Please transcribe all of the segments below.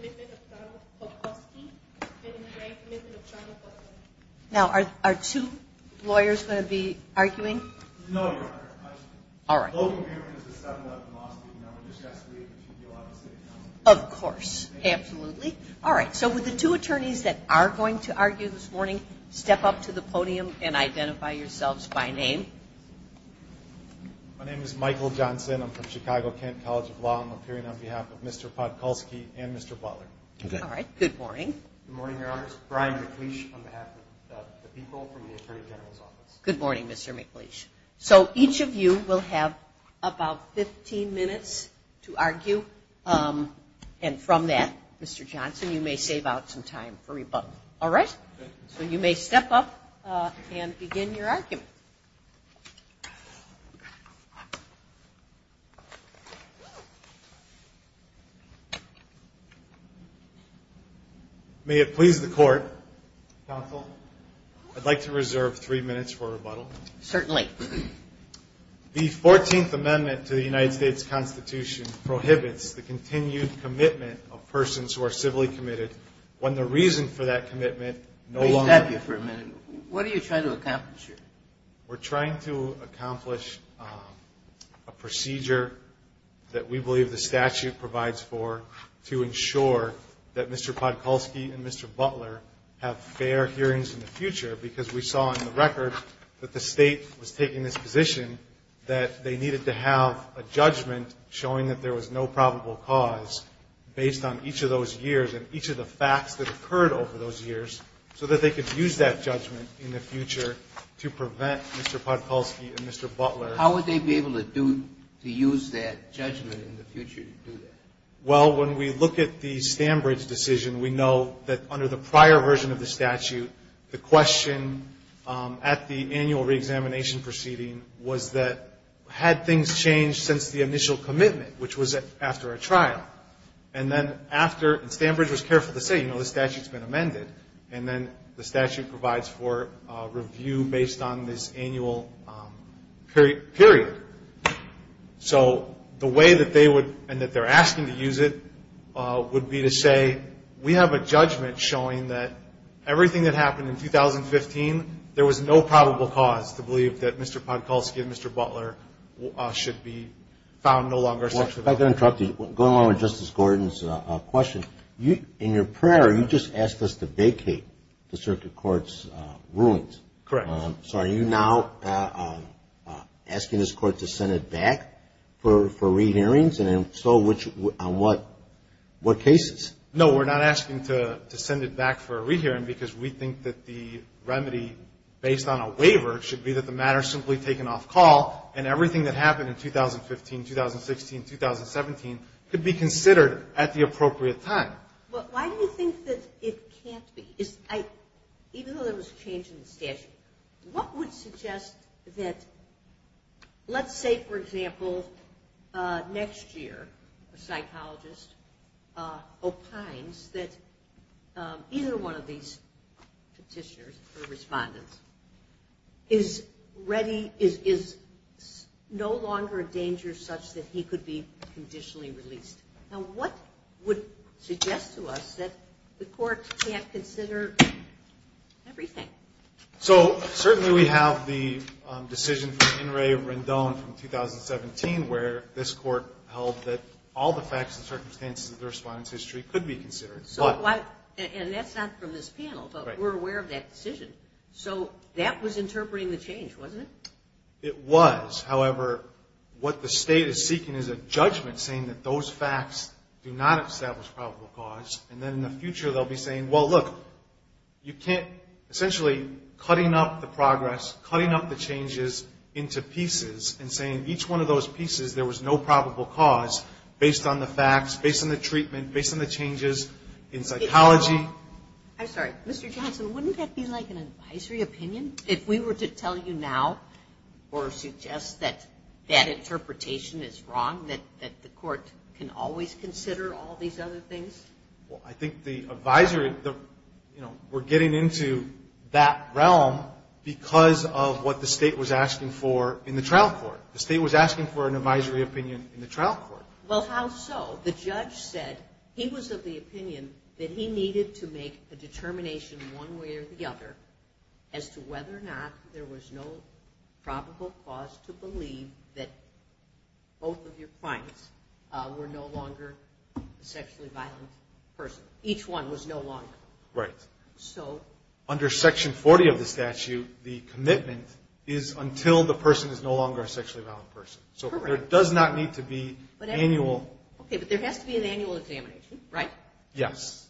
Commitment of Donald Podkulski Now, are two lawyers going to be arguing? No, Your Honor. All right. The whole agreement is the settlement of the lawsuit. You know, we discussed it last week. It should be a lot easier now. Of course. Absolutely. All right. So, would the two attorneys that are going to argue this morning step up to the podium and identify yourselves by name? My name is Michael Johnson. I'm from Chicago-Kent College of Law, and I'm appearing on behalf of Mr. Podkulski and Mr. Butler. All right. Good morning. Good morning, Your Honor. Brian McLeish on behalf of the people from the Attorney General's Office. Good morning, Mr. McLeish. So, each of you will have about 15 minutes to argue, and from that, Mr. Johnson, you may save out some time for rebuttal. All right? So, you may step up and begin your argument. May it please the Court, Counsel, I'd like to reserve three minutes for rebuttal. Certainly. The 14th Amendment to the United States Constitution prohibits the continued commitment of persons who are civilly committed when the reason for that commitment no longer exists. May we stop you for a minute? What are you trying to accomplish here? We're trying to accomplish a procedure that we believe the statute provides for to ensure that Mr. Podkulski and Mr. Butler have fair hearings in the future because we saw in the record that the State was taking this position that they needed to have a judgment showing that there was no probable cause based on each of those years and each of the facts that occurred over those years so that they could use that judgment in the future to prevent Mr. Podkulski and Mr. Butler. How would they be able to use that judgment in the future to do that? Well, when we look at the Stanbridge decision, we know that under the prior version of the statute, the question at the annual reexamination proceeding was that had things changed since the initial commitment, which was after a trial. And then after, and Stanbridge was careful to say, you know, the statute's been amended, and then the statute provides for review based on this annual period. So the way that they would and that they're asking to use it would be to say, we have a judgment showing that everything that happened in 2015, there was no probable cause to believe that Mr. Podkulski and Mr. Butler should be found no longer sexually violent. If I could interrupt you, going along with Justice Gordon's question. In your prayer, you just asked us to vacate the circuit court's rulings. Correct. So are you now asking this court to send it back for re-hearings? And if so, on what cases? No, we're not asking to send it back for a re-hearing because we think that the remedy, based on a waiver, should be that the matter is simply taken off call and everything that happened in 2015, 2016, 2017 could be considered at the appropriate time. Well, why do you think that it can't be? Even though there was a change in the statute, what would suggest that, let's say, for example, next year a psychologist opines that either one of these petitioners or respondents is no longer a danger such that he could be conditionally released. Now what would suggest to us that the court can't consider everything? So certainly we have the decision from In re Rendon from 2017 where this court held that all the facts and circumstances of the respondent's history could be considered. And that's not from this panel, but we're aware of that decision. So that was interpreting the change, wasn't it? It was. However, what the State is seeking is a judgment saying that those facts do not establish probable cause, and then in the future they'll be saying, well, look, you can't essentially cutting up the progress, cutting up the changes into pieces and saying each one of those pieces there was no probable cause based on the facts, based on the treatment, based on the changes in psychology. I'm sorry, Mr. Johnson, wouldn't that be like an advisory opinion? If we were to tell you now or suggest that that interpretation is wrong, that the court can always consider all these other things? Well, I think the advisory, you know, we're getting into that realm because of what the State was asking for in the trial court. The State was asking for an advisory opinion in the trial court. Well, how so? The judge said he was of the opinion that he needed to make a determination one way or the other as to whether or not there was no probable cause to believe that both of your clients were no longer a sexually violent person. Each one was no longer. Right. So? Under Section 40 of the statute, the commitment is until the person is no longer a sexually violent person. Correct. So there does not need to be annual. Okay, but there has to be an annual examination, right? Yes.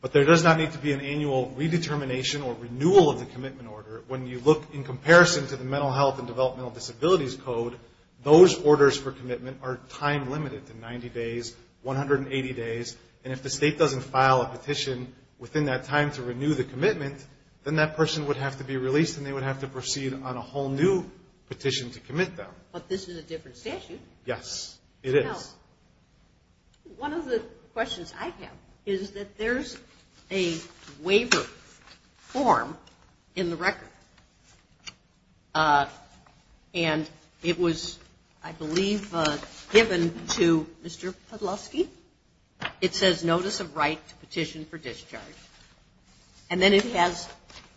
But there does not need to be an annual redetermination or renewal of the commitment order. When you look in comparison to the Mental Health and Developmental Disabilities Code, those orders for commitment are time limited to 90 days, 180 days. And if the State doesn't file a petition within that time to renew the commitment, then that person would have to be released and they would have to proceed on a whole new petition to commit them. But this is a different statute. Yes, it is. One of the questions I have is that there's a waiver form in the record, and it was, I believe, given to Mr. Podlowski. It says, Notice of Right to Petition for Discharge. And then it has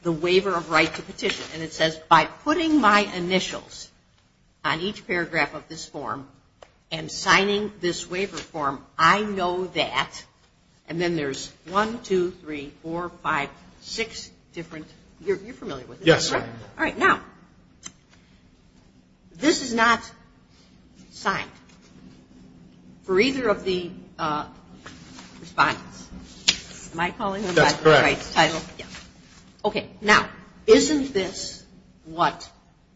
the waiver of right to petition, and it says, By putting my initials on each paragraph of this form and signing this waiver form, I know that, and then there's one, two, three, four, five, six different, you're familiar with this, right? Yes. All right. Now, this is not signed for either of the respondents. That's correct. Yes. Okay. Now, isn't this what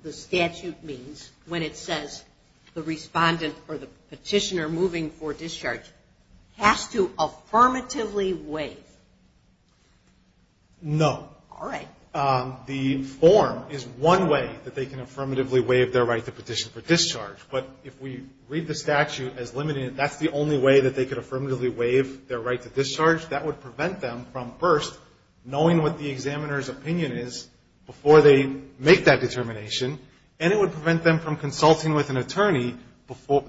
the statute means when it says the respondent or the petitioner moving for discharge has to affirmatively waive? No. All right. The form is one way that they can affirmatively waive their right to petition for discharge. But if we read the statute as limiting it, that's the only way that they could affirmatively waive their right to discharge. That would prevent them from first knowing what the examiner's opinion is before they make that determination, and it would prevent them from consulting with an attorney,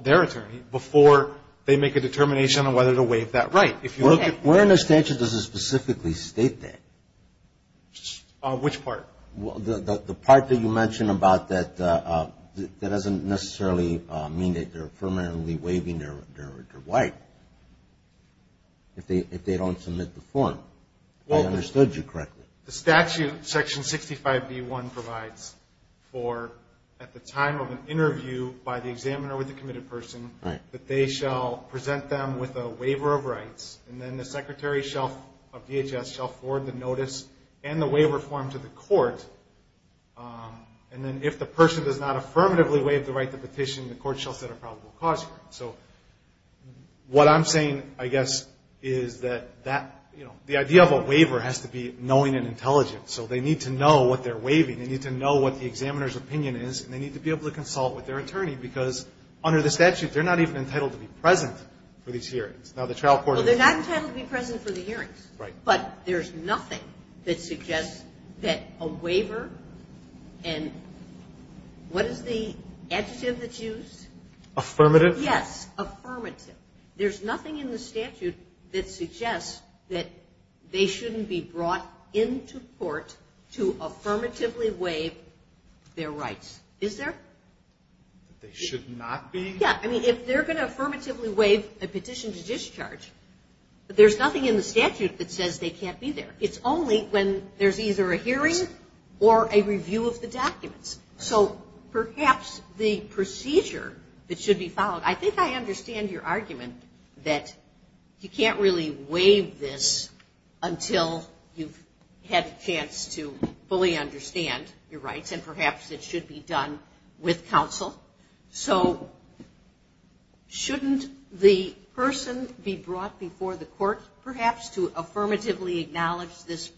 their attorney, before they make a determination on whether to waive that right. Okay. Where in the statute does it specifically state that? Which part? The part that you mentioned about that doesn't necessarily mean that they're affirmatively waiving their right. If they don't submit the form. I understood you correctly. The statute, Section 65B1, provides for at the time of an interview by the examiner with the committed person that they shall present them with a waiver of rights, and then the secretary of DHS shall forward the notice and the waiver form to the court. And then if the person does not affirmatively waive the right to petition, the court shall set a probable cause here. So what I'm saying, I guess, is that the idea of a waiver has to be knowing and intelligent. So they need to know what they're waiving. They need to know what the examiner's opinion is, and they need to be able to consult with their attorney because under the statute they're not even entitled to be present for these hearings. Now, the trial court is. Well, they're not entitled to be present for the hearings. Right. But there's nothing that suggests that a waiver and what is the adjective that's used? Affirmative? Yes, affirmative. There's nothing in the statute that suggests that they shouldn't be brought into court to affirmatively waive their rights. Is there? They should not be? Yeah. I mean, if they're going to affirmatively waive a petition to discharge, there's nothing in the statute that says they can't be there. It's only when there's either a hearing or a review of the documents. So perhaps the procedure that should be followed, I think I understand your argument that you can't really waive this until you've had a chance to fully understand your rights, and perhaps it should be done with counsel. So shouldn't the person be brought before the court, perhaps, to affirmatively acknowledge this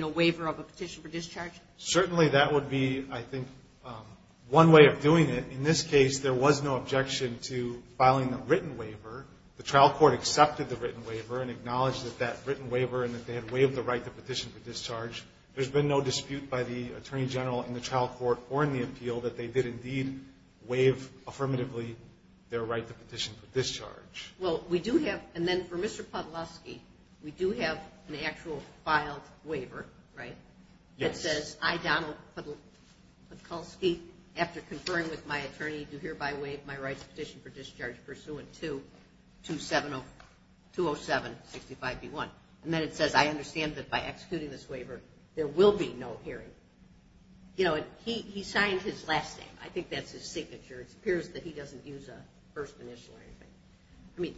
waiver of a petition for discharge? Certainly, that would be, I think, one way of doing it. In this case, there was no objection to filing a written waiver. The trial court accepted the written waiver and acknowledged that that written waiver and that they had waived the right to petition for discharge. There's been no dispute by the attorney general in the trial court or in the appeal that they did indeed waive affirmatively their right to petition for discharge. Well, we do have, and then for Mr. Podlosky, we do have an actual filed waiver, right? Yes. It says, I, Donald Podlosky, after conferring with my attorney, do hereby waive my right to petition for discharge pursuant to 207-65b-1. And then it says, I understand that by executing this waiver, there will be no hearing. You know, he signed his last name. I think that's his signature. It appears that he doesn't use a first initial or anything. I mean,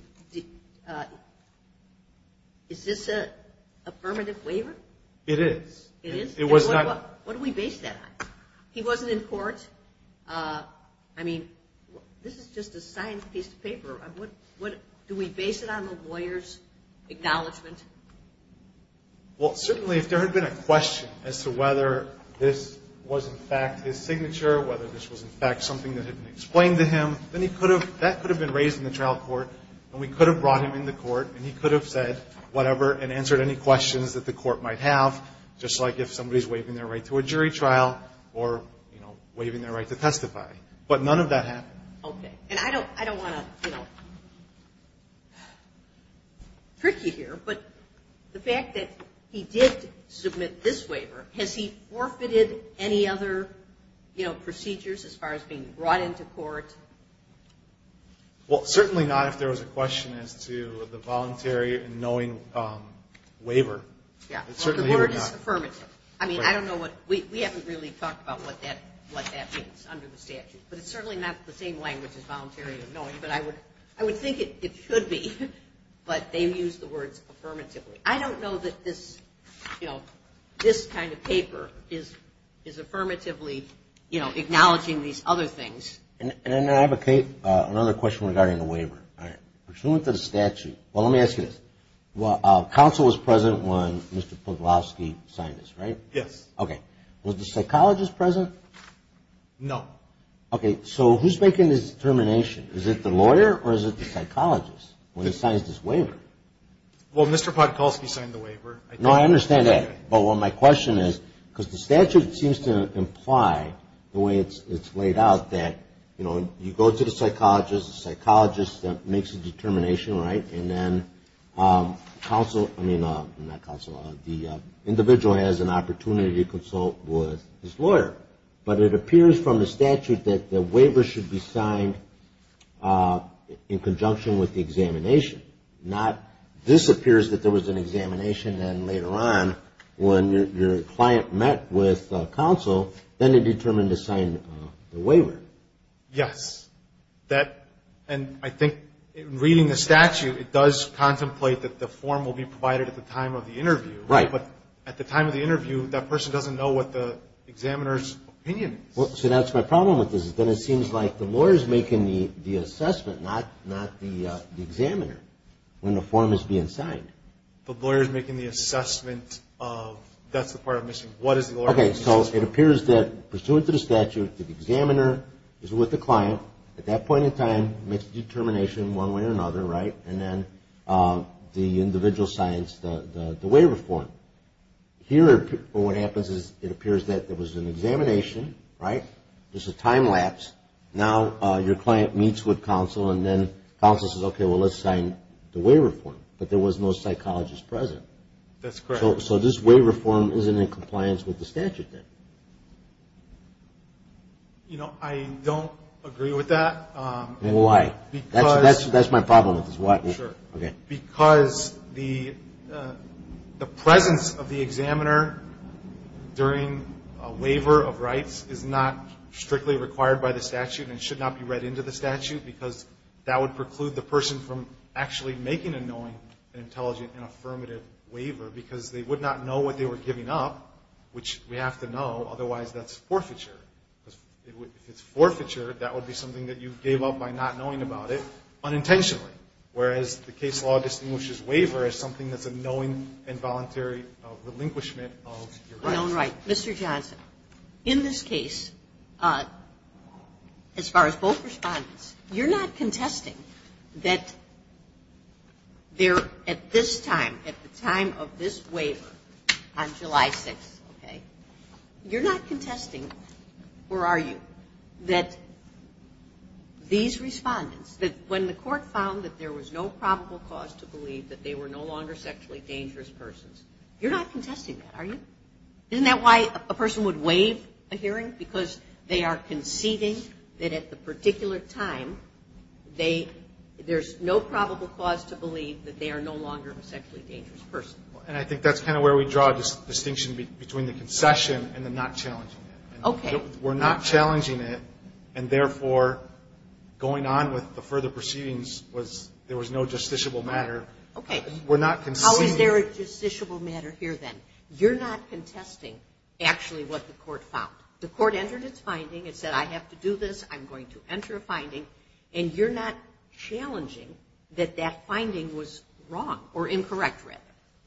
is this an affirmative waiver? It is. It is? It was not. What do we base that on? He wasn't in court. I mean, this is just a signed piece of paper. Do we base it on the lawyer's acknowledgment? Well, certainly, if there had been a question as to whether this was, in fact, his signature, whether this was, in fact, something that had been explained to him, then that could have been raised in the trial court, and we could have brought him in the court, and he could have said whatever and answered any questions that the court might have, just like if somebody's waiving their right to a jury trial or, you know, waiving their right to testify. But none of that happened. Okay. And I don't want to, you know, trick you here, but the fact that he did submit this waiver, has he forfeited any other, you know, procedures as far as being brought into court? Well, certainly not if there was a question as to the voluntary and knowing waiver. Yeah. The word is affirmative. I mean, I don't know what we haven't really talked about what that means under the statute, but it's certainly not the same language as voluntary and knowing, but I would think it should be. But they've used the words affirmatively. I don't know that this, you know, this kind of paper is affirmatively, you know, acknowledging these other things. And I have another question regarding the waiver. All right. Pursuant to the statute, well, let me ask you this. Well, counsel was present when Mr. Podolsky signed this, right? Yes. Okay. Was the psychologist present? No. Okay. So who's making this determination? Is it the lawyer or is it the psychologist when he signs this waiver? Well, Mr. Podolsky signed the waiver. No, I understand that. Well, my question is, because the statute seems to imply the way it's laid out that, you know, you go to the psychologist, the psychologist makes the determination, right? And then counsel, I mean, not counsel, the individual has an opportunity to consult with his lawyer. But it appears from the statute that the waiver should be signed in conjunction with the examination. Not this appears that there was an examination and later on when your client met with counsel, then they determined to sign the waiver. Yes. And I think in reading the statute, it does contemplate that the form will be provided at the time of the interview. Right. But at the time of the interview, that person doesn't know what the examiner's opinion is. So that's my problem with this. Then it seems like the lawyer is making the assessment, not the examiner, when the form is being signed. The lawyer is making the assessment of, that's the part I'm missing. What is the lawyer making the assessment of? Okay, so it appears that pursuant to the statute, the examiner is with the client at that point in time, makes a determination one way or another, right? And then the individual signs the waiver form. Here what happens is it appears that there was an examination, right? Just a time lapse. Now your client meets with counsel and then counsel says, okay, well let's sign the waiver form. But there was no psychologist present. That's correct. So this waiver form isn't in compliance with the statute then? You know, I don't agree with that. Why? Because. That's my problem with this. Sure. Okay. Because the presence of the examiner during a waiver of rights is not strictly required by the statute and should not be read into the statute because that would preclude the person from actually making and knowing an intelligent and affirmative waiver because they would not know what they were giving up, which we have to know, otherwise that's forfeiture. If it's forfeiture, that would be something that you gave up by not knowing about it unintentionally, whereas the case law distinguishes waiver as something that's a knowing and voluntary relinquishment of your rights. Known right. Mr. Johnson, in this case, as far as both respondents, you're not contesting that there at this time, at the time of this waiver on July 6th, okay, you're not contesting, or are you, that these respondents, when the court found that there was no probable cause to believe that they were no longer sexually dangerous persons, you're not contesting that, are you? Isn't that why a person would waive a hearing? Because they are conceding that at the particular time, there's no probable cause to believe that they are no longer a sexually dangerous person. And I think that's kind of where we draw a distinction between the concession and the not challenging it. Okay. We're not challenging it, and therefore, going on with the further proceedings, there was no justiciable matter. Okay. We're not conceding. How is there a justiciable matter here, then? You're not contesting actually what the court found. The court entered its finding. It said, I have to do this. I'm going to enter a finding. And you're not challenging that that finding was wrong, or incorrect, rather.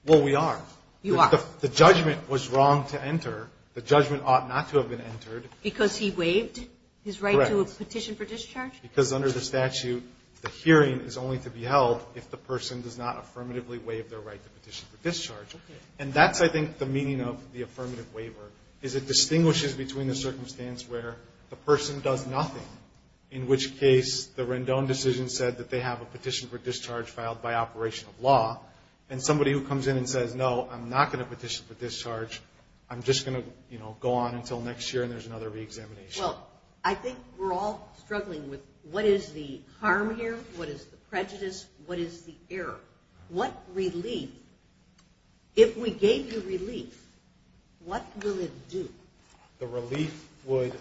Well, we are. You are. The judgment was wrong to enter. The judgment ought not to have been entered. Because he waived his right to a petition for discharge? Correct. Because under the statute, the hearing is only to be held if the person does not affirmatively waive their right to petition for discharge. Okay. And that's, I think, the meaning of the affirmative waiver, is it distinguishes between the circumstance where the person does nothing, in which case the Rendon decision said that they have a petition for discharge filed by operation of law, and somebody who comes in and says, no, I'm not going to petition for discharge, I'm just going to go on until next year and there's another reexamination. Well, I think we're all struggling with what is the harm here, what is the prejudice, what is the error. What relief, if we gave you relief, what will it do? The relief would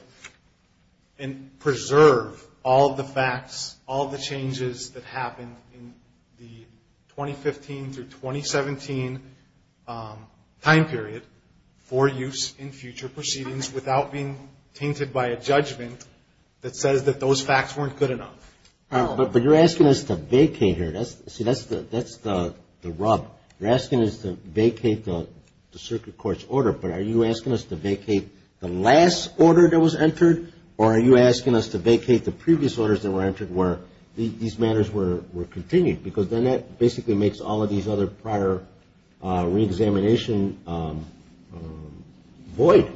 preserve all the facts, all the changes that happened in the 2015 through 2017 time period for use in future proceedings without being tainted by a judgment that says that those facts weren't good enough. But you're asking us to vacate here. See, that's the rub. You're asking us to vacate the circuit court's order. But are you asking us to vacate the last order that was entered, or are you asking us to vacate the previous orders that were entered where these matters were continued? Because then that basically makes all of these other prior reexamination void.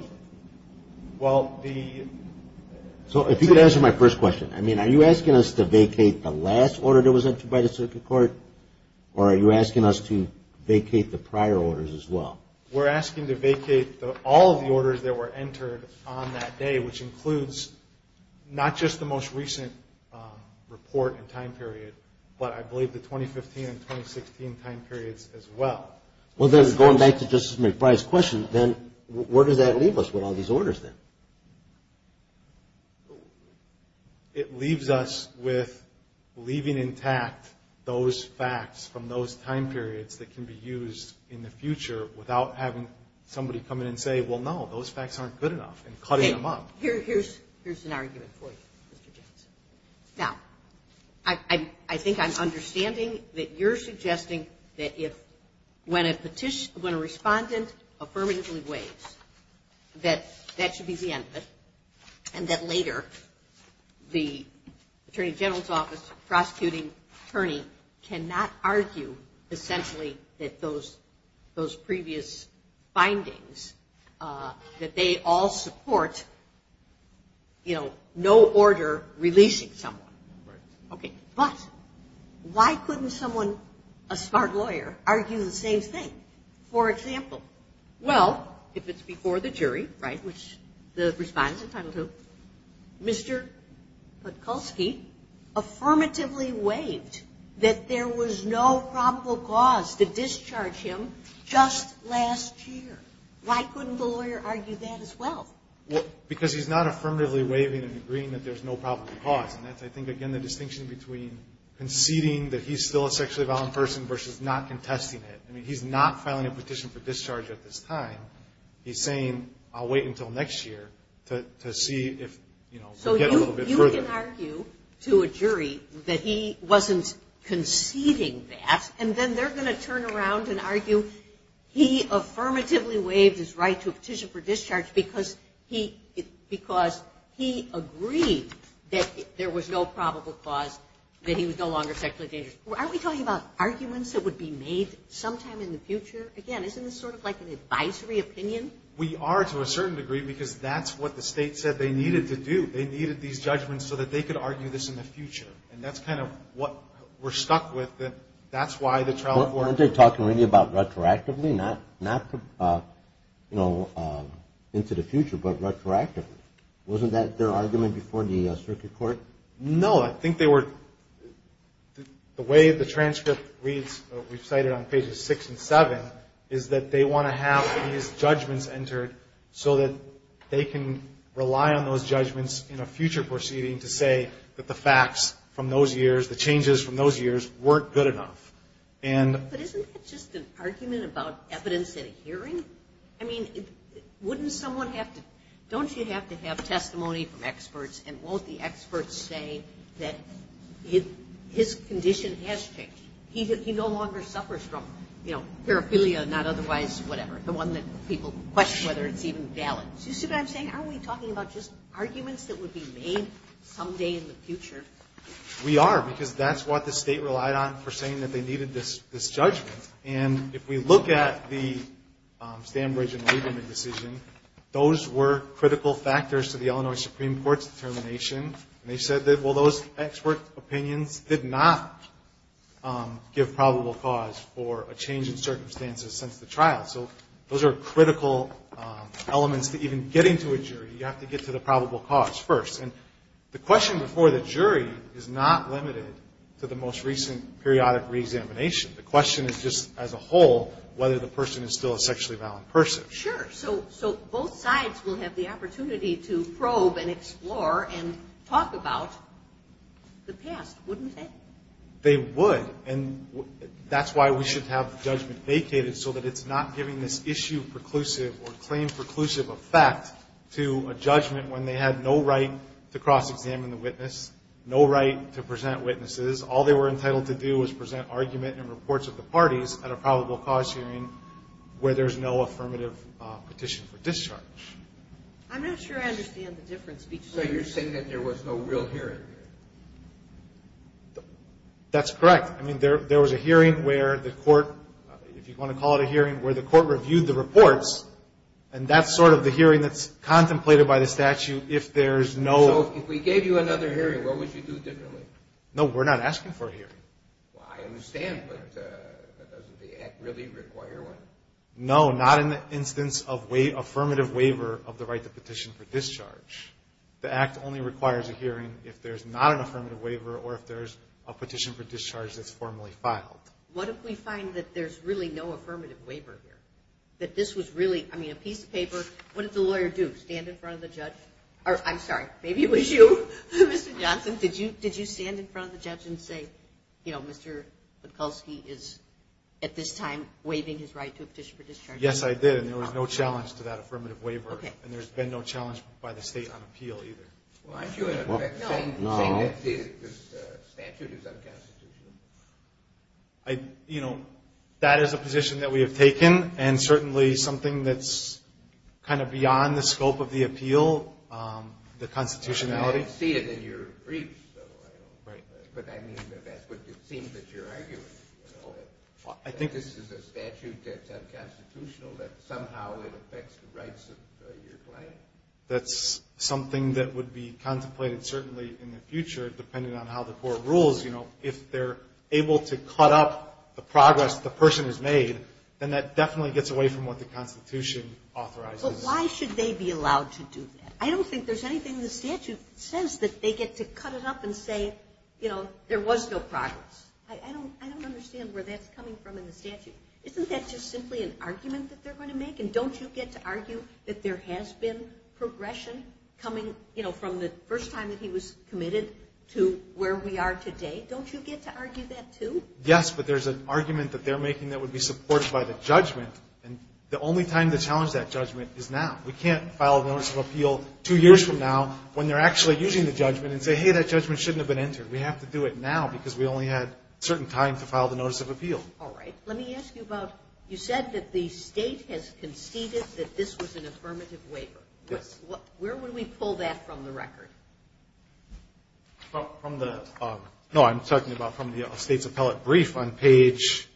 So if you could answer my first question. Are you asking us to vacate the last order that was entered by the circuit court, or are you asking us to vacate the prior orders as well? We're asking to vacate all of the orders that were entered on that day, which includes not just the most recent report and time period, but I believe the 2015 and 2016 time periods as well. Well, then, going back to Justice McBride's question, then where does that leave us with all these orders then? It leaves us with leaving intact those facts from those time periods that can be used in the future without having somebody come in and say, well, no, those facts aren't good enough, and cutting them up. Here's an argument for you, Mr. James. Now, I think I'm understanding that you're suggesting that when a respondent affirmatively waives, that that should be the end of it, and that later the Attorney General's Office prosecuting attorney cannot argue essentially that those previous findings, that they all support no order releasing someone. Right. Okay. But why couldn't someone, a smart lawyer, argue the same thing? For example, well, if it's before the jury, right, which the respondent's entitled to, Mr. Podkulski affirmatively waived that there was no probable cause to discharge him just last year. Why couldn't the lawyer argue that as well? Because he's not affirmatively waiving and agreeing that there's no probable cause, and that's, I think, again, the distinction between conceding that he's still a sexually violent person versus not contesting it. I mean, he's not filing a petition for discharge at this time. He's saying, I'll wait until next year to see if, you know, we'll get a little bit further. So you can argue to a jury that he wasn't conceding that, and then they're going to turn around and argue he affirmatively waived his right to a petition for discharge because he agreed that there was no probable cause that he was no longer sexually dangerous. Aren't we talking about arguments that would be made sometime in the future? Again, isn't this sort of like an advisory opinion? We are to a certain degree because that's what the state said they needed to do. They needed these judgments so that they could argue this in the future, and that's kind of what we're stuck with. Aren't they talking really about retroactively, not, you know, into the future, but retroactively? Wasn't that their argument before the circuit court? No. I think the way the transcript reads, we've cited on pages six and seven, is that they want to have these judgments entered so that they can rely on those judgments in a future proceeding to say that the facts from those years, the changes from those years weren't good enough. But isn't that just an argument about evidence in a hearing? I mean, wouldn't someone have to – don't you have to have testimony from experts, and won't the experts say that his condition has changed? He no longer suffers from, you know, paraphilia, not otherwise whatever, the one that people question whether it's even valid. You see what I'm saying? Aren't we talking about just arguments that would be made someday in the future? We are, because that's what the state relied on for saying that they needed this judgment. And if we look at the Stanbridge and Lieberman decision, those were critical factors to the Illinois Supreme Court's determination. And they said that, well, those expert opinions did not give probable cause for a change in circumstances since the trial. So those are critical elements to even getting to a jury. You have to get to the probable cause first. And the question before the jury is not limited to the most recent periodic reexamination. The question is just as a whole whether the person is still a sexually violent person. Sure. So both sides will have the opportunity to probe and explore and talk about the past, wouldn't they? They would. And that's why we should have the judgment vacated so that it's not giving this issue preclusive or claim preclusive effect to a judgment when they had no right to cross-examine the witness, no right to present witnesses. All they were entitled to do was present argument and reports of the parties at a probable cause hearing where there's no affirmative petition for discharge. I'm not sure I understand the difference between the two. So you're saying that there was no real hearing? That's correct. I mean, there was a hearing where the court, if you want to call it a hearing, where the court reviewed the reports, and that's sort of the hearing that's contemplated by the statute if there's no... So if we gave you another hearing, what would you do differently? No, we're not asking for a hearing. Well, I understand, but doesn't the Act really require one? No, not in the instance of affirmative waiver of the right to petition for discharge. The Act only requires a hearing if there's not an affirmative waiver or if there's a petition for discharge that's formally filed. What if we find that there's really no affirmative waiver here? That this was really, I mean, a piece of paper... What did the lawyer do? Stand in front of the judge? Or, I'm sorry, maybe it was you, Mr. Johnson. Did you stand in front of the judge and say, you know, Mr. Mikulski is at this time waiving his right to a petition for discharge? Yes, I did, and there was no challenge to that affirmative waiver, and there's been no challenge by the state on appeal either. Well, aren't you saying that this statute is unconstitutional? You know, that is a position that we have taken and certainly something that's kind of beyond the scope of the appeal, the constitutionality. I see it in your briefs, though. But I mean, it seems that you're arguing that this is a statute that's unconstitutional, that somehow it affects the rights of your client. That's something that would be contemplated certainly in the future, depending on how the court rules. You know, if they're able to cut up the progress the person has made, then that definitely gets away from what the constitution authorizes. But why should they be allowed to do that? I don't think there's anything in the statute that says that they get to cut it up and say, you know, there was no progress. I don't understand where that's coming from in the statute. Isn't that just simply an argument that they're going to make? And don't you get to argue that there has been progression coming, you know, from the first time that he was committed to where we are today? Don't you get to argue that too? Yes, but there's an argument that they're making that would be supported by the judgment. And the only time to challenge that judgment is now. We can't file a notice of appeal two years from now when they're actually using the judgment and say, hey, that judgment shouldn't have been entered. We have to do it now because we only had certain time to file the notice of appeal. All right. Let me ask you about, you said that the State has conceded that this was an affirmative waiver. Yes. Where would we pull that from the record? From the, no, I'm talking about from the State's appellate brief on page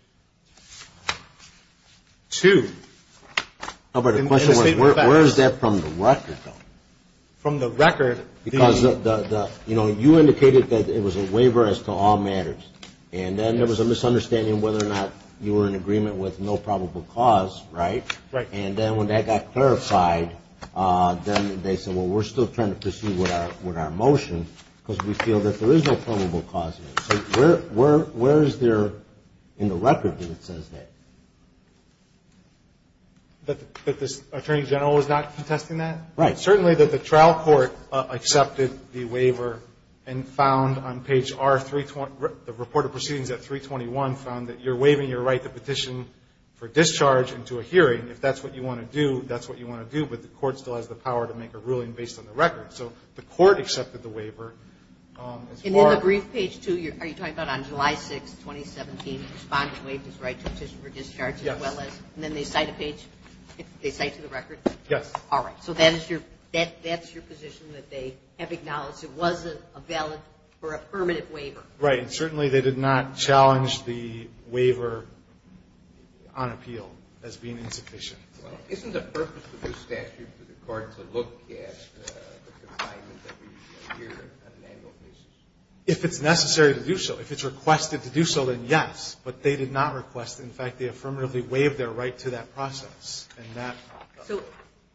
2. Where is that from the record, though? From the record. Because, you know, you indicated that it was a waiver as to all matters. And then there was a misunderstanding whether or not you were in agreement with no probable cause, right? Right. And then when that got clarified, then they said, well, we're still trying to pursue with our motion because we feel that there is no probable cause here. So where is there in the record that it says that? That the Attorney General is not contesting that? Right. Certainly that the trial court accepted the waiver and found on page R, the report of proceedings at 321, found that you're waiving your right to petition for discharge into a hearing. If that's what you want to do, that's what you want to do. But the court still has the power to make a ruling based on the record. So the court accepted the waiver. And then the brief page 2, are you talking about on July 6, 2017, responding to waive his right to petition for discharge as well as? Yes. And then they cite a page? They cite to the record? Yes. All right. So that's your position that they have acknowledged? It wasn't a valid or a permanent waiver? Right. And certainly they did not challenge the waiver on appeal as being insufficient. Isn't the purpose of the statute for the court to look at the confinement that we hear on an annual basis? If it's necessary to do so. If it's requested to do so, then yes. But they did not request. In fact, they affirmatively waived their right to that process. So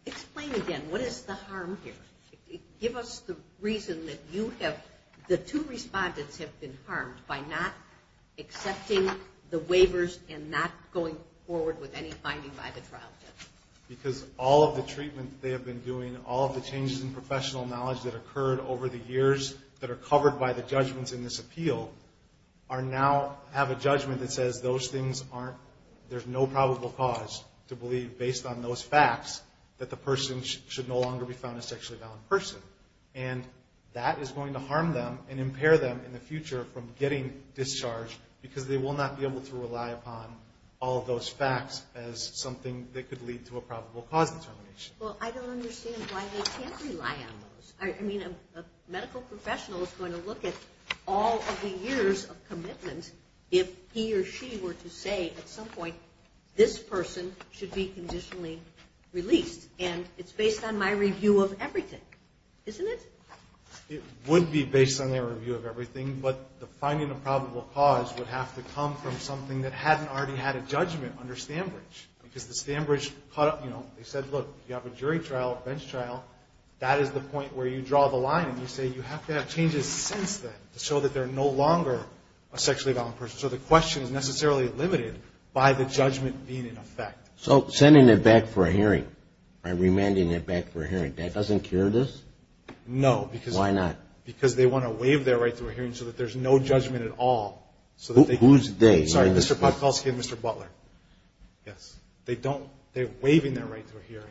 explain again, what is the harm here? Give us the reason that the two respondents have been harmed by not accepting the waivers and not going forward with any finding by the trial judge. Because all of the treatment they have been doing, all of the changes in professional knowledge that occurred over the years that are covered by the judgments in this appeal, now have a judgment that says there's no probable cause to believe based on those facts that the person should no longer be found a sexually violent person. And that is going to harm them and impair them in the future from getting discharged because they will not be able to rely upon all of those facts as something that could lead to a probable cause determination. Well, I don't understand why they can't rely on those. I mean, a medical professional is going to look at all of the years of commitment if he or she were to say at some point this person should be conditionally released. And it's based on my review of everything, isn't it? It would be based on their review of everything, but the finding of probable cause would have to come from something that hadn't already had a judgment under Stanbridge. Because the Stanbridge caught up, you know, they said, look, you have a jury trial, a bench trial, that is the point where you draw the line. And you say you have to have changes since then to show that they're no longer a sexually violent person. So the question is necessarily limited by the judgment being in effect. So sending them back for a hearing, remanding them back for a hearing, that doesn't cure this? No. Why not? Because they want to waive their right to a hearing so that there's no judgment at all. Whose they? Sorry, Mr. Podkalski and Mr. Butler. Yes. They don't. They're waiving their right to a hearing.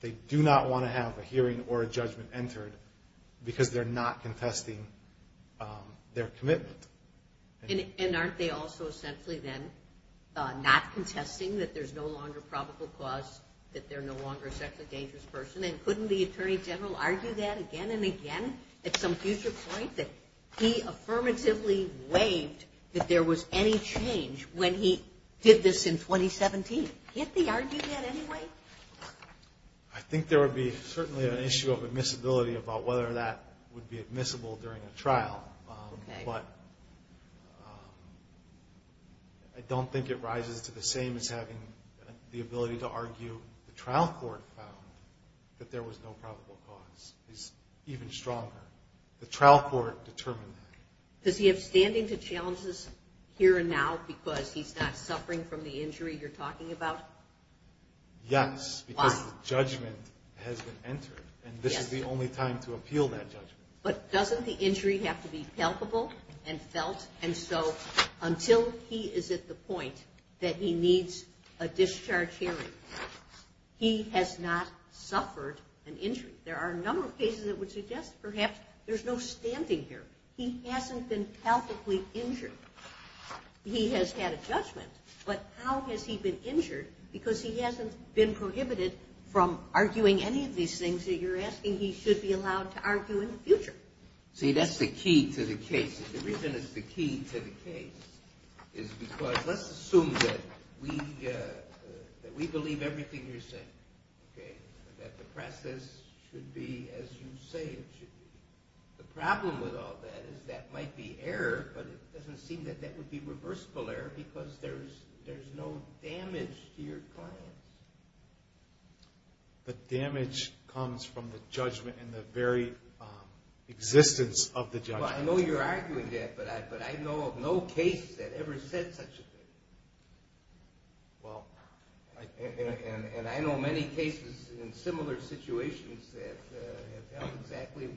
They do not want to have a hearing or a judgment entered because they're not contesting their commitment. And aren't they also essentially then not contesting that there's no longer probable cause, that they're no longer a sexually dangerous person? And couldn't the Attorney General argue that again and again at some future point, that he affirmatively waived that there was any change when he did this in 2017? Can't they argue that anyway? I think there would be certainly an issue of admissibility about whether that would be admissible during a trial. But I don't think it rises to the same as having the ability to argue. The trial court found that there was no probable cause. It's even stronger. The trial court determined that. Does he have standing to challenges here and now because he's not suffering from the injury you're talking about? Yes, because the judgment has been entered. And this is the only time to appeal that judgment. But doesn't the injury have to be palpable and felt? And so until he is at the point that he needs a discharge hearing, he has not suffered an injury. There are a number of cases that would suggest perhaps there's no standing here. He hasn't been palpably injured. He has had a judgment. But how has he been injured? Because he hasn't been prohibited from arguing any of these things that you're asking he should be allowed to argue in the future. See, that's the key to the case. The reason it's the key to the case is because let's assume that we believe everything you're saying, okay, that the process should be as you say it should be. The problem with all that is that might be error, but it doesn't seem that that would be reversible error because there's no damage to your client. But damage comes from the judgment and the very existence of the judgment. Well, I know you're arguing that, but I know of no case that ever said such a thing. Well, and I know many cases in similar situations that have done exactly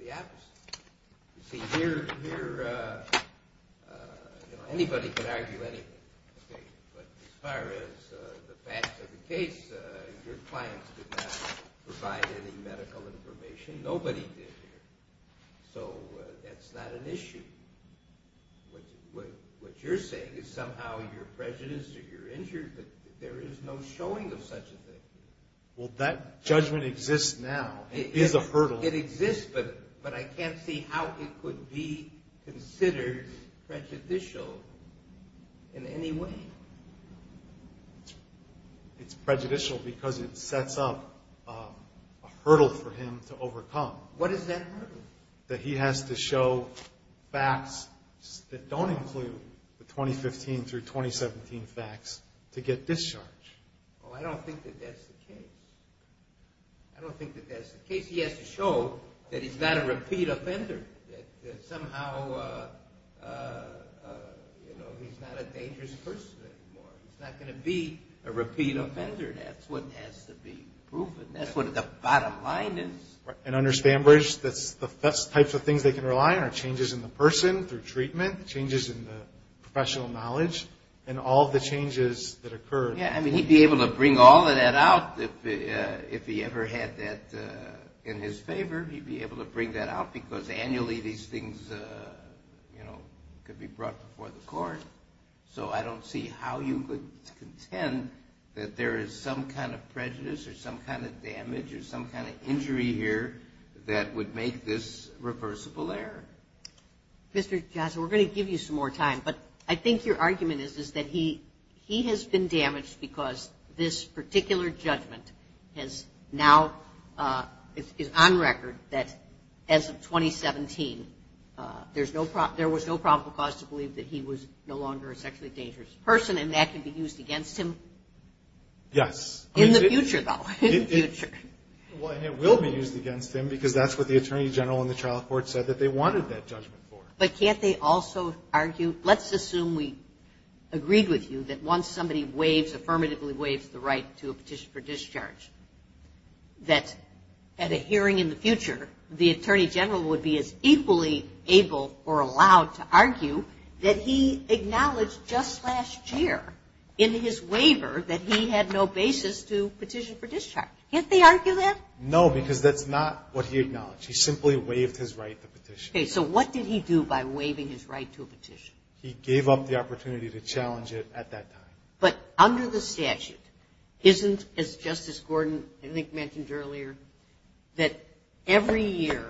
the opposite. You see, here anybody can argue anything, but as far as the facts of the case, your clients did not provide any medical information. Nobody did here. So that's not an issue. What you're saying is somehow you're prejudiced or you're injured, but there is no showing of such a thing. Well, that judgment exists now. It is a hurdle. It exists, but I can't see how it could be considered prejudicial in any way. It's prejudicial because it sets up a hurdle for him to overcome. What is that hurdle? That he has to show facts that don't include the 2015 through 2017 facts to get discharged. Well, I don't think that that's the case. I don't think that that's the case. He has to show that he's not a repeat offender, that somehow he's not a dangerous person anymore. He's not going to be a repeat offender. That's what has to be proven. That's what the bottom line is. And under Spambridge, the best types of things they can rely on are changes in the person through treatment, changes in the professional knowledge, and all the changes that occur. Yeah, I mean, he'd be able to bring all of that out if he ever had that in his favor. He'd be able to bring that out because annually these things could be brought before the court. So I don't see how you could contend that there is some kind of prejudice or some kind of damage or some kind of injury here that would make this reversible error. Mr. Johnson, we're going to give you some more time, but I think your argument is that he has been damaged because this particular judgment is now on record that as of 2017 there was no probable cause to believe that he was no longer a sexually dangerous person, and that can be used against him. Yes. In the future, though. In the future. Well, and it will be used against him because that's what the Attorney General and the trial court said that they wanted that judgment for. But can't they also argue? Let's assume we agreed with you that once somebody waives, affirmatively waives the right to a petition for discharge, that at a hearing in the future, the Attorney General would be as equally able or allowed to argue that he acknowledged just last year in his waiver that he had no basis to petition for discharge. Can't they argue that? No, because that's not what he acknowledged. He simply waived his right to petition. Okay. So what did he do by waiving his right to a petition? He gave up the opportunity to challenge it at that time. But under the statute, isn't, as Justice Gordon, I think, mentioned earlier, that every year,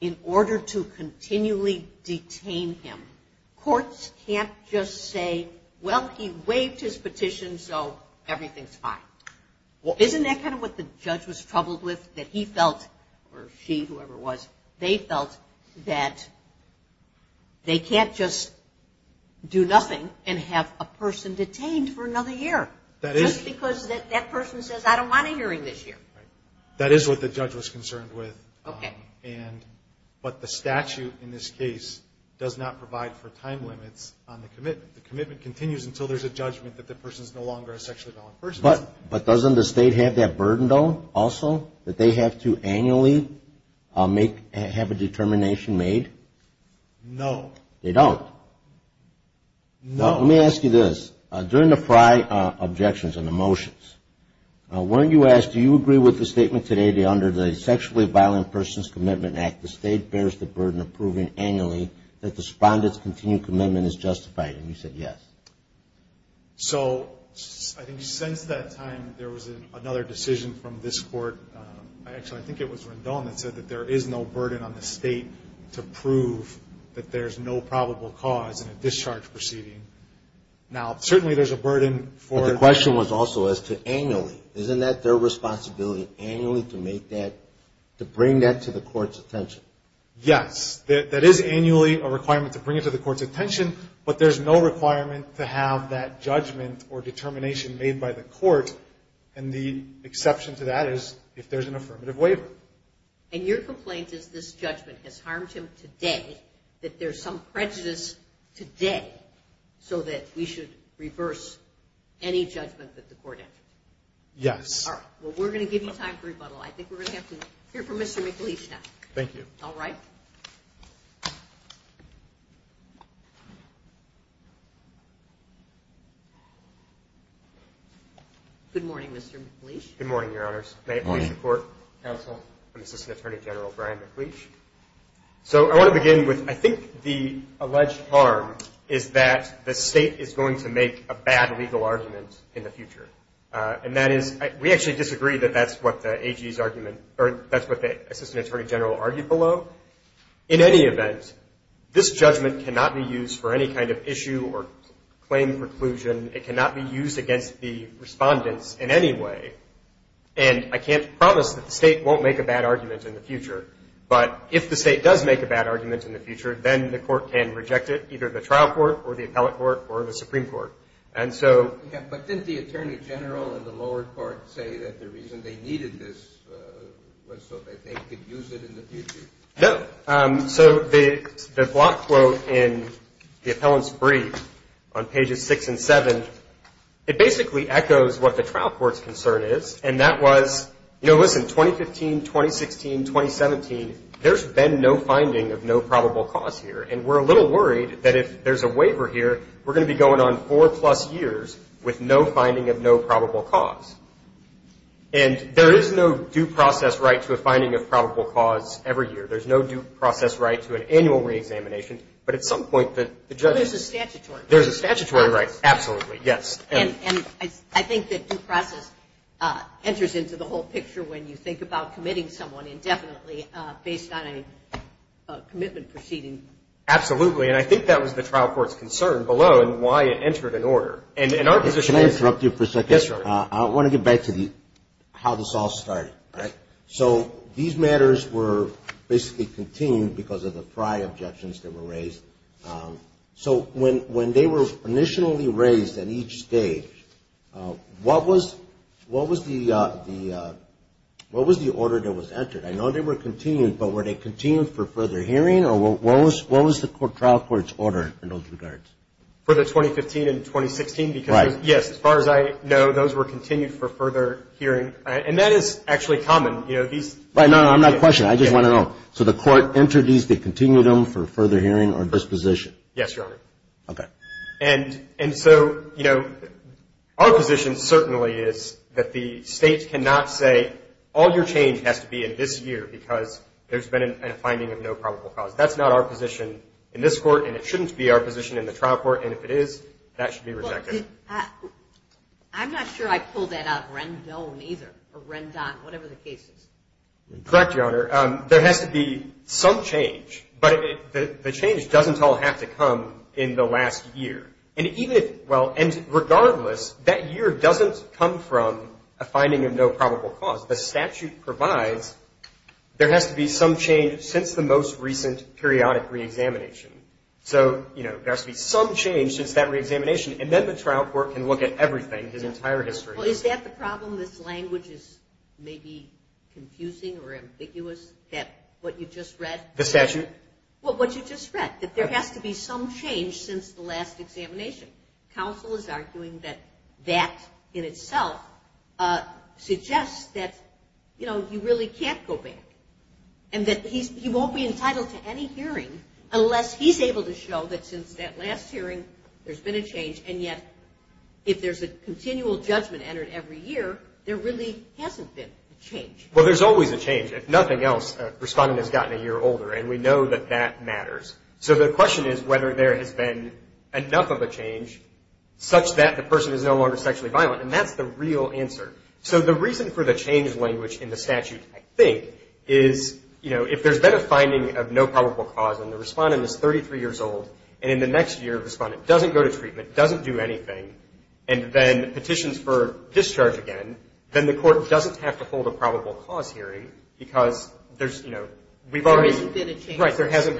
in order to continually detain him, courts can't just say, well, he waived his petition, so everything's fine. Well, isn't that kind of what the judge was troubled with, that he felt, or she, whoever it was, they felt that they can't just do nothing and have a person detained for another year. Just because that person says, I don't want a hearing this year. That is what the judge was concerned with. Okay. But the statute in this case does not provide for time limits on the commitment. The commitment continues until there's a judgment that the person is no longer a sexually violent person. But doesn't the state have that burden, though, also, that they have to annually have a determination made? No. They don't? No. Let me ask you this. During the prior objections and the motions, weren't you asked, do you agree with the statement today that under the Sexually Violent Persons Commitment Act, the state bears the burden of proving annually that the respondent's continued commitment is justified? And you said yes. So I think since that time, there was another decision from this court. Actually, I think it was Rendon that said that there is no burden on the state to prove that there's no probable cause in a discharge proceeding. Now, certainly there's a burden. But the question was also as to annually. Isn't that their responsibility, annually, to make that, to bring that to the court's attention? Yes. That is annually a requirement to bring it to the court's attention, but there's no requirement to have that judgment or determination made by the court. And the exception to that is if there's an affirmative waiver. And your complaint is this judgment has harmed him today, that there's some prejudice today, so that we should reverse any judgment that the court has. Yes. All right. Well, we're going to give you time for rebuttal. I think we're going to have to hear from Mr. McLeish now. Thank you. All right. Good morning, Mr. McLeish. Good morning, Your Honors. May it please the Court. Counsel. I'm Assistant Attorney General Brian McLeish. So I want to begin with, I think the alleged harm is that the state is going to make a bad legal argument in the future. And that is, we actually disagree that that's what the AG's argument, or that's what the Assistant Attorney General argued below. In any event, this judgment cannot be used for any kind of issue or claim preclusion. It cannot be used against the respondents in any way. And I can't promise that the state won't make a bad argument in the future. But if the state does make a bad argument in the future, then the court can reject it, either the trial court or the appellate court or the Supreme Court. And so – But didn't the Attorney General in the lower court say that the reason they needed this was so that they could use it in the future? No. So the block quote in the appellant's brief on pages 6 and 7, it basically echoes what the trial court's concern is. And that was, you know, listen, 2015, 2016, 2017, there's been no finding of no probable cause here. And we're a little worried that if there's a waiver here, we're going to be going on four-plus years with no finding of no probable cause. And there is no due process right to a finding of probable cause every year. There's no due process right to an annual reexamination. But at some point the judge – Well, there's a statutory process. There's a statutory right. Absolutely, yes. And I think that due process enters into the whole picture when you think about committing someone indefinitely based on a commitment proceeding. Absolutely. And I think that was the trial court's concern below and why it entered an order. And in our position – Can I interrupt you for a second? Yes, Charlie. I want to get back to how this all started. All right. So these matters were basically continued because of the prior objections that were raised. So when they were initially raised at each stage, what was the order that was entered? I know they were continued, but were they continued for further hearing, or what was the trial court's order in those regards? For the 2015 and 2016? Right. Yes, as far as I know, those were continued for further hearing. And that is actually common. No, I'm not questioning. I just want to know. So the court entered these, they continued them for further hearing or disposition? Yes, Your Honor. Okay. And so our position certainly is that the state cannot say all your change has to be in this year because there's been a finding of no probable cause. That's not our position in this court, and it shouldn't be our position in the trial court, and if it is, that should be rejected. I'm not sure I pulled that out of Rendon either, or Rendon, whatever the case is. Correct, Your Honor. There has to be some change, but the change doesn't all have to come in the last year. And regardless, that year doesn't come from a finding of no probable cause. The statute provides there has to be some change since the most recent periodic reexamination. So, you know, there has to be some change since that reexamination, and then the trial court can look at everything, his entire history. Well, is that the problem? This language is maybe confusing or ambiguous, that what you just read? The statute? Well, what you just read, that there has to be some change since the last examination. Counsel is arguing that that in itself suggests that, you know, you really can't go back and that he won't be entitled to any hearing unless he's able to show that since that last hearing, there's been a change, and yet if there's a continual judgment entered every year, there really hasn't been a change. Well, there's always a change. If nothing else, a respondent has gotten a year older, and we know that that matters. So the question is whether there has been enough of a change such that the person is no longer sexually violent, and that's the real answer. So the reason for the change language in the statute, I think, is, you know, if there's been a finding of no probable cause and the respondent is 33 years old, and in the next year the respondent doesn't go to treatment, doesn't do anything, and then petitions for discharge again, then the court doesn't have to hold a probable cause hearing because there's, you know, we've already... There hasn't been a change. Right. There hasn't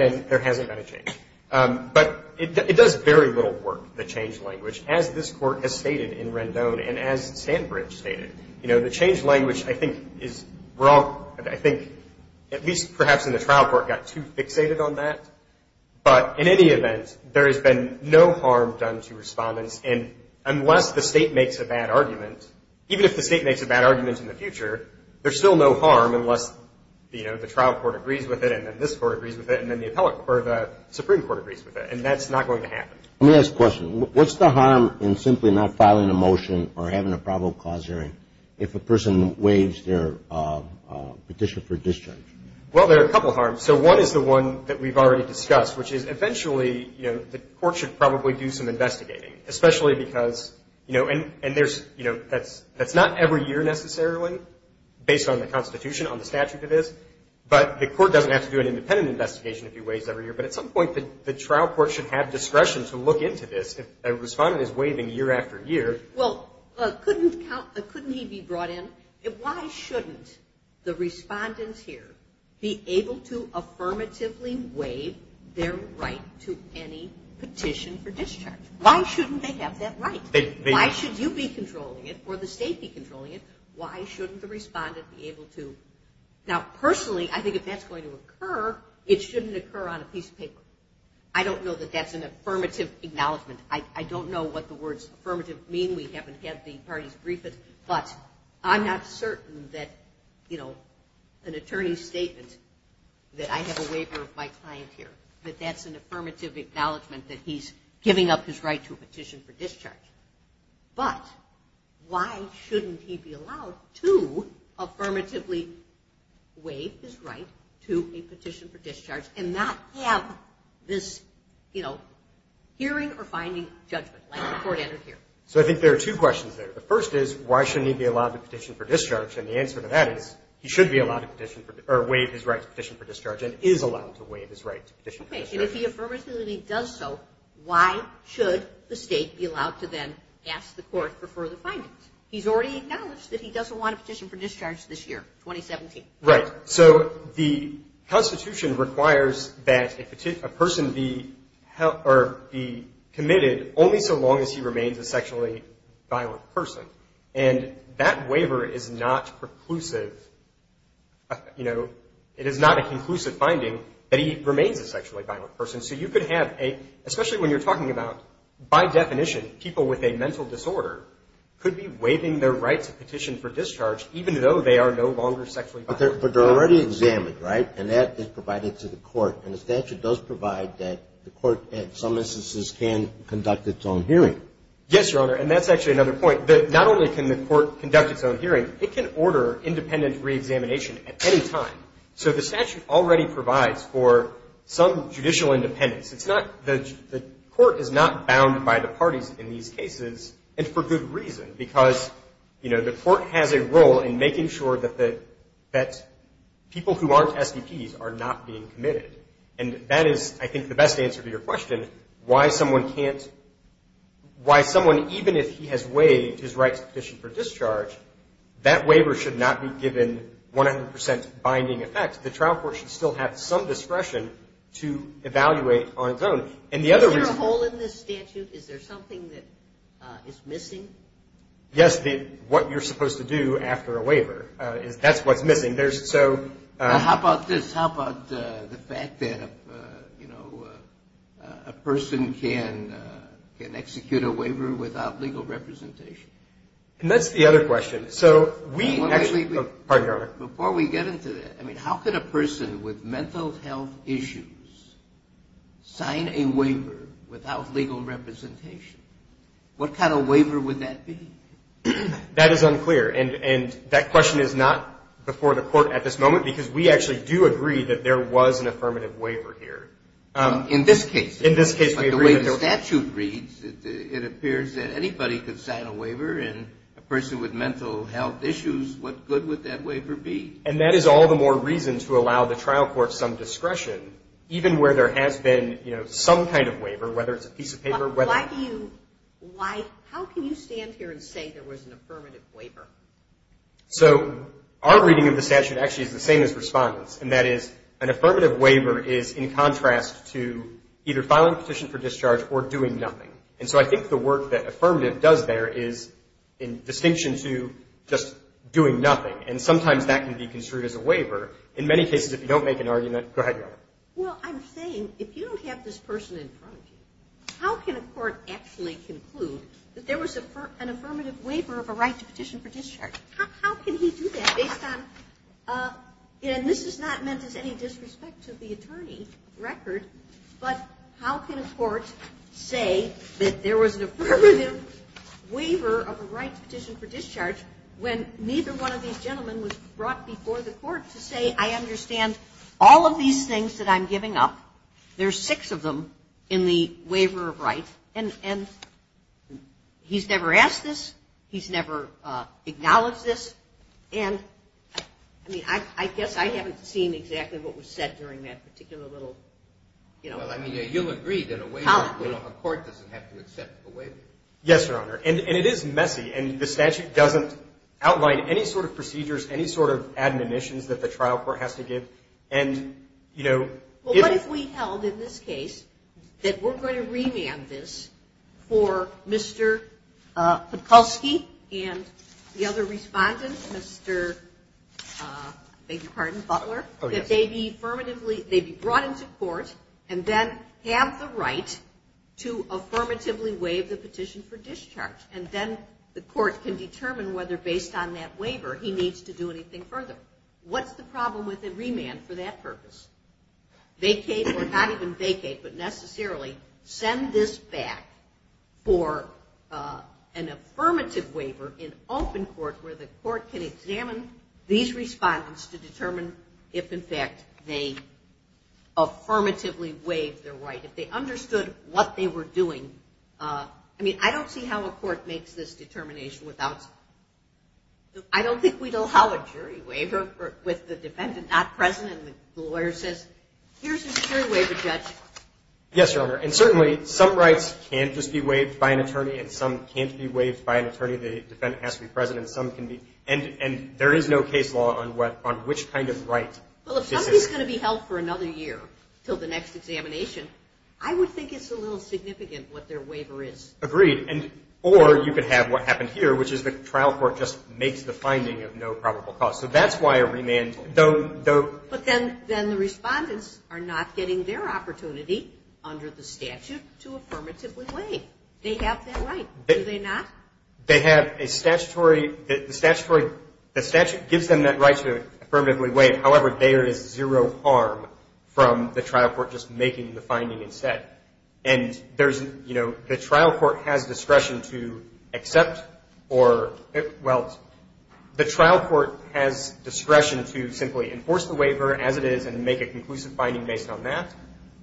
been a change. But it does very little work, the change language, as this court has stated in Rendon and as Sandbridge stated. You know, the change language, I think, is wrong. I think at least perhaps in the trial court got too fixated on that. But in any event, there has been no harm done to respondents. And unless the state makes a bad argument, even if the state makes a bad argument in the future, there's still no harm unless, you know, the trial court agrees with it and then this court agrees with it and then the Supreme Court agrees with it. And that's not going to happen. Let me ask a question. What's the harm in simply not filing a motion or having a probable cause hearing if a person waives their petition for discharge? Well, there are a couple harms. So one is the one that we've already discussed, which is eventually, you know, the court should probably do some investigating, especially because, you know, and there's, you know, that's not every year necessarily, based on the Constitution, on the statute of this, but the court doesn't have to do an independent investigation if he waives every year. But at some point the trial court should have discretion to look into this if a respondent is waiving year after year. Well, couldn't he be brought in? Why shouldn't the respondents here be able to affirmatively waive their right to any petition for discharge? Why shouldn't they have that right? Why should you be controlling it or the state be controlling it? Why shouldn't the respondent be able to? Now, personally, I think if that's going to occur, it shouldn't occur on a piece of paper. I don't know that that's an affirmative acknowledgment. I don't know what the words affirmative mean. We haven't had the parties brief us. But I'm not certain that, you know, an attorney's statement that I have a waiver of my client here, that that's an affirmative acknowledgment that he's giving up his right to a petition for discharge. But why shouldn't he be allowed to affirmatively waive his right to a petition for discharge and not have this, you know, hearing or finding judgment like the court entered here? So I think there are two questions there. The first is, why shouldn't he be allowed to petition for discharge? And the answer to that is, he should be allowed to petition or waive his right to petition for discharge and is allowed to waive his right to petition for discharge. And if he affirmatively does so, why should the state be allowed to then ask the court for further findings? He's already acknowledged that he doesn't want a petition for discharge this year, 2017. Right. So the Constitution requires that a person be committed only so long as he remains a sexually violent person. And that waiver is not preclusive, you know, it is not a conclusive finding that he remains a sexually violent person. So you could have a, especially when you're talking about, by definition, people with a mental disorder could be waiving their right to petition for discharge, even though they are no longer sexually violent. But they're already examined, right? And that is provided to the court. And the statute does provide that the court, in some instances, can conduct its own hearing. Yes, Your Honor. And that's actually another point, that not only can the court conduct its own hearing, it can order independent reexamination at any time. So the statute already provides for some judicial independence. The court is not bound by the parties in these cases, and for good reason. Because, you know, the court has a role in making sure that people who aren't STPs are not being committed. And that is, I think, the best answer to your question, why someone can't, why someone, even if he has waived his right to petition for discharge, that waiver should not be given 100% binding effect. The trial court should still have some discretion to evaluate on its own. Is there a hole in this statute? Is there something that is missing? Yes, what you're supposed to do after a waiver. That's what's missing. How about this? How about the fact that, you know, a person can execute a waiver without legal representation? And that's the other question. So we actually, pardon me, Your Honor. Before we get into that, I mean, how could a person with mental health issues sign a waiver without legal representation? What kind of waiver would that be? That is unclear. And that question is not before the court at this moment, because we actually do agree that there was an affirmative waiver here. In this case. In this case. But the way the statute reads, it appears that anybody could sign a waiver, and a person with mental health issues, what good would that waiver be? And that is all the more reason to allow the trial court some discretion, even where there has been, you know, some kind of waiver, whether it's a piece of paper. How can you stand here and say there was an affirmative waiver? So our reading of the statute actually is the same as respondents, and that is an affirmative waiver is in contrast to either filing a petition for discharge or doing nothing. And so I think the work that affirmative does there is in distinction to just doing nothing, and sometimes that can be construed as a waiver. In many cases, if you don't make an argument, go ahead, Your Honor. Well, I'm saying if you don't have this person in front of you, how can a court actually conclude that there was an affirmative waiver of a right to petition for discharge? How can he do that based on, and this is not meant as any disrespect to the attorney record, but how can a court say that there was an affirmative waiver of a right to petition for discharge when neither one of these gentlemen was brought before the court to say, I understand all of these things that I'm giving up. There's six of them in the waiver of right, and he's never asked this. He's never acknowledged this. And I mean, I guess I haven't seen exactly what was said during that particular little, you know. Well, I mean, you'll agree that a waiver, you know, a court doesn't have to accept a waiver. Yes, Your Honor, and it is messy, and the statute doesn't outline any sort of procedures, any sort of admonitions that the trial court has to give. And, you know. Well, what if we held in this case that we're going to remand this for Mr. Podolsky and the other respondent, Mr. Butler, that they be brought into court and then have the right to affirmatively waive the petition for discharge, and then the court can determine whether, based on that waiver, he needs to do anything further. What's the problem with a remand for that purpose? Vacate or not even vacate, but necessarily send this back for an affirmative waiver in open court where the court can examine these respondents to determine if, in fact, they affirmatively waived their right, if they understood what they were doing. I mean, I don't see how a court makes this determination without. I don't think we'd allow a jury waiver with the defendant not present and the lawyer says, here's a jury waiver, Judge. Yes, Your Honor, and certainly some rights can't just be waived by an attorney, and some can't be waived by an attorney. The defendant has to be present, and some can be. And there is no case law on which kind of right this is. Well, if somebody's going to be held for another year until the next examination, I would think it's a little significant what their waiver is. Agreed. Or you could have what happened here, which is the trial court just makes the finding of no probable cause. So that's why a remand, though. But then the respondents are not getting their opportunity under the statute to affirmatively waive. They have that right. Do they not? They have a statutory. The statute gives them that right to affirmatively waive. However, there is zero harm from the trial court just making the finding instead. And there's, you know, the trial court has discretion to accept or, well, the trial court has discretion to simply enforce the waiver as it is and make a conclusive finding based on that,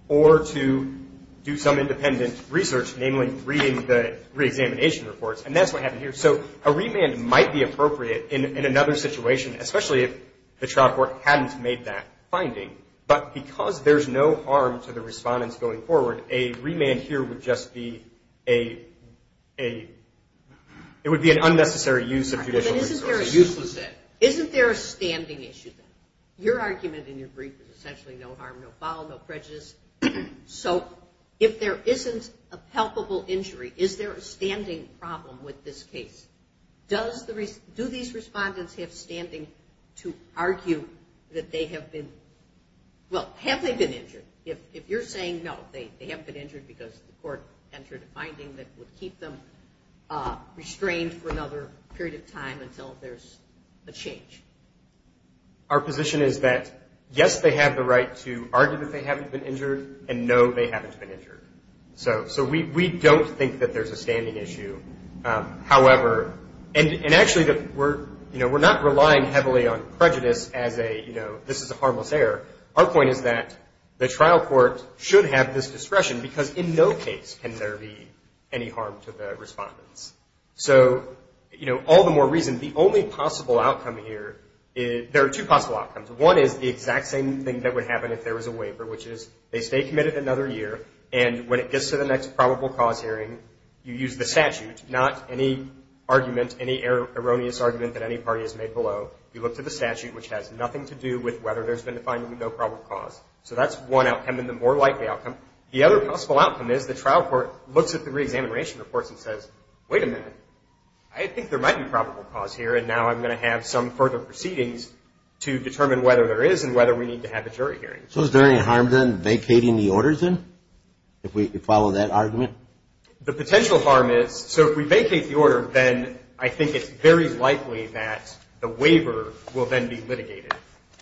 or to do some independent research, namely reading the reexamination reports. And that's what happened here. So a remand might be appropriate in another situation, especially if the trial court hadn't made that finding. But because there's no harm to the respondents going forward, a remand here would just be an unnecessary use of judicial resources. Isn't there a standing issue? Your argument in your brief is essentially no harm, no foul, no prejudice. So if there isn't a palpable injury, is there a standing problem with this case? Do these respondents have standing to argue that they have been, well, have they been injured? If you're saying no, they haven't been injured because the court entered a finding that would keep them restrained for another period of time until there's a change. Our position is that, yes, they have the right to argue that they haven't been injured, and no, they haven't been injured. So we don't think that there's a standing issue. However, and actually we're not relying heavily on prejudice as a, you know, this is a harmless error. Our point is that the trial court should have this discretion because in no case can there be any harm to the respondents. So, you know, all the more reason, the only possible outcome here, there are two possible outcomes. One is the exact same thing that would happen if there was a waiver, which is they stay committed another year, and when it gets to the next probable cause hearing, you use the statute, not any argument, any erroneous argument that any party has made below. You look to the statute, which has nothing to do with whether there's been a finding with no probable cause. So that's one outcome, and the more likely outcome. The other possible outcome is the trial court looks at the reexamination reports and says, wait a minute, I think there might be probable cause here, and now I'm going to have some further proceedings to determine whether there is and whether we need to have a jury hearing. So is there any harm then vacating the orders then, if we follow that argument? The potential harm is, so if we vacate the order, then I think it's very likely that the waiver will then be litigated.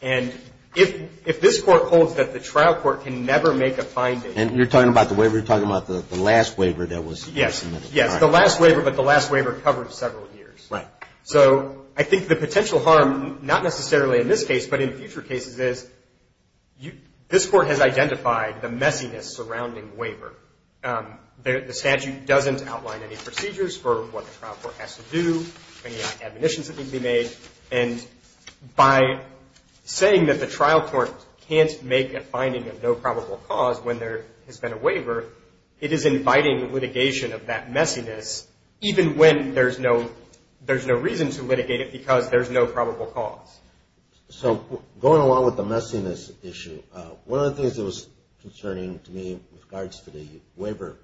And if this Court holds that the trial court can never make a finding. And you're talking about the waiver, you're talking about the last waiver that was submitted. Yes. Yes, the last waiver, but the last waiver covered several years. Right. So I think the potential harm, not necessarily in this case, but in future cases, is this Court has identified the messiness surrounding waiver. The statute doesn't outline any procedures for what the trial court has to do, any admonitions that need to be made, and by saying that the trial court can't make a finding of no probable cause when there has been a waiver, it is inviting litigation of that messiness, even when there's no reason to litigate it because there's no probable cause. So going along with the messiness issue, one of the things that was concerning to me with regards to the waiver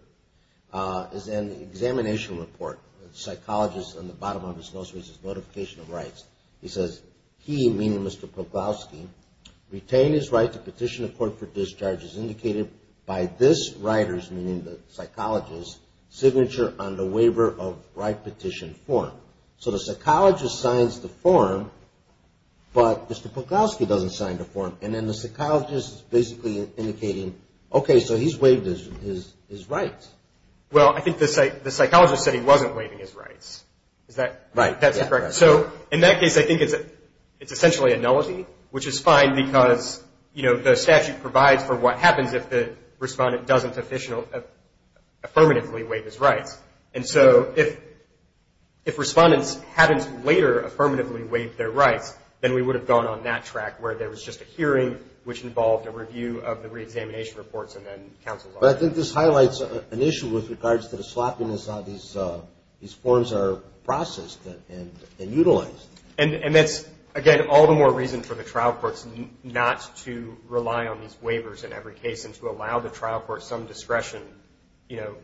is an examination report. The psychologist on the bottom of his notice was his notification of rights. He says, he, meaning Mr. Poklowski, retained his right to petition the court for discharges indicated by this writer's, meaning the psychologist's, signature on the waiver of right petition form. So the psychologist signs the form, but Mr. Poklowski doesn't sign the form. And then the psychologist is basically indicating, okay, so he's waived his rights. Well, I think the psychologist said he wasn't waiving his rights. Is that correct? Right. So in that case, I think it's essentially a nullity, which is fine because, you know, the statute provides for what happens if the respondent doesn't affirmatively waive his rights. Then we would have gone on that track where there was just a hearing, which involved a review of the reexamination reports and then counsel's office. But I think this highlights an issue with regards to the sloppiness of how these forms are processed and utilized. And that's, again, all the more reason for the trial courts not to rely on these waivers in every case and to allow the trial court some discretion, you know,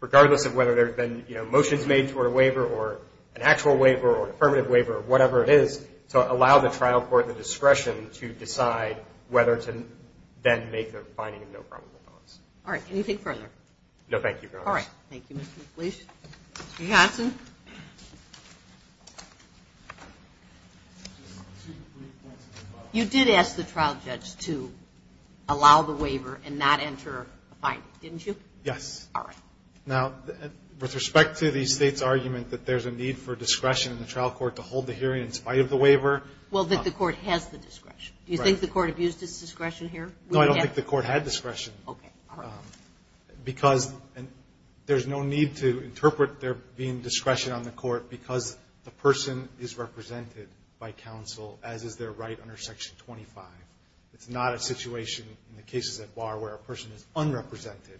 regardless of whether there have been, you know, to allow the trial court the discretion to decide whether to then make a finding of no probable cause. All right. Anything further? No, thank you, Your Honor. All right. Thank you, Mr. McLeish. Mr. Johnson? You did ask the trial judge to allow the waiver and not enter a finding, didn't you? Yes. All right. Now, with respect to the State's argument that there's a need for discretion in the trial court to hold the hearing in spite of the waiver. Well, that the court has the discretion. Do you think the court abused its discretion here? No, I don't think the court had discretion. Okay. Because there's no need to interpret there being discretion on the court because the person is represented by counsel, as is their right under Section 25. It's not a situation in the cases at bar where a person is unrepresented,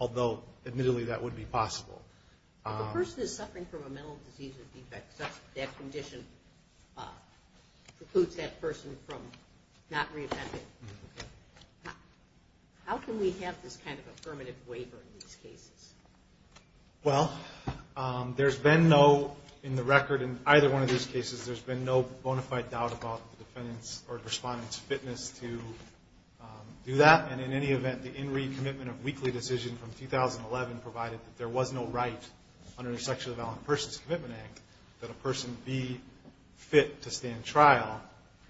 although, admittedly, that would be possible. If a person is suffering from a mental disease or defect such that that condition precludes that person from not reoffending, how can we have this kind of affirmative waiver in these cases? Well, there's been no, in the record in either one of these cases, there's been no bona fide doubt about the defendant's or the respondent's fitness to do that. And in any event, the in re-commitment of weekly decision from 2011 provided that there was no right under the Sexually Violent Persons Commitment Act that a person be fit to stand trial.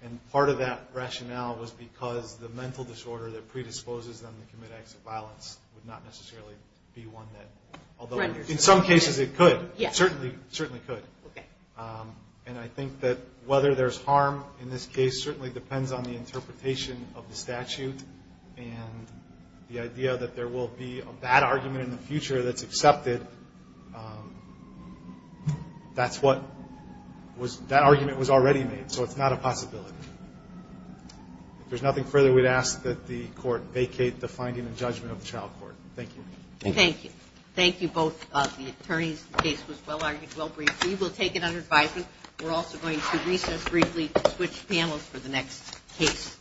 And part of that rationale was because the mental disorder that predisposes them to commit acts of violence would not necessarily be one that, although in some cases it could. Yes. It certainly could. Okay. And I think that whether there's harm in this case certainly depends on the interpretation of the statute. And the idea that there will be a bad argument in the future that's accepted, that's what was, that argument was already made. So it's not a possibility. If there's nothing further, we'd ask that the court vacate the finding and judgment of the trial court. Thank you. Thank you. Thank you both. The attorney's case was well argued, well briefed. We will take it under advisement. We're also going to recess briefly to switch panels for the next case.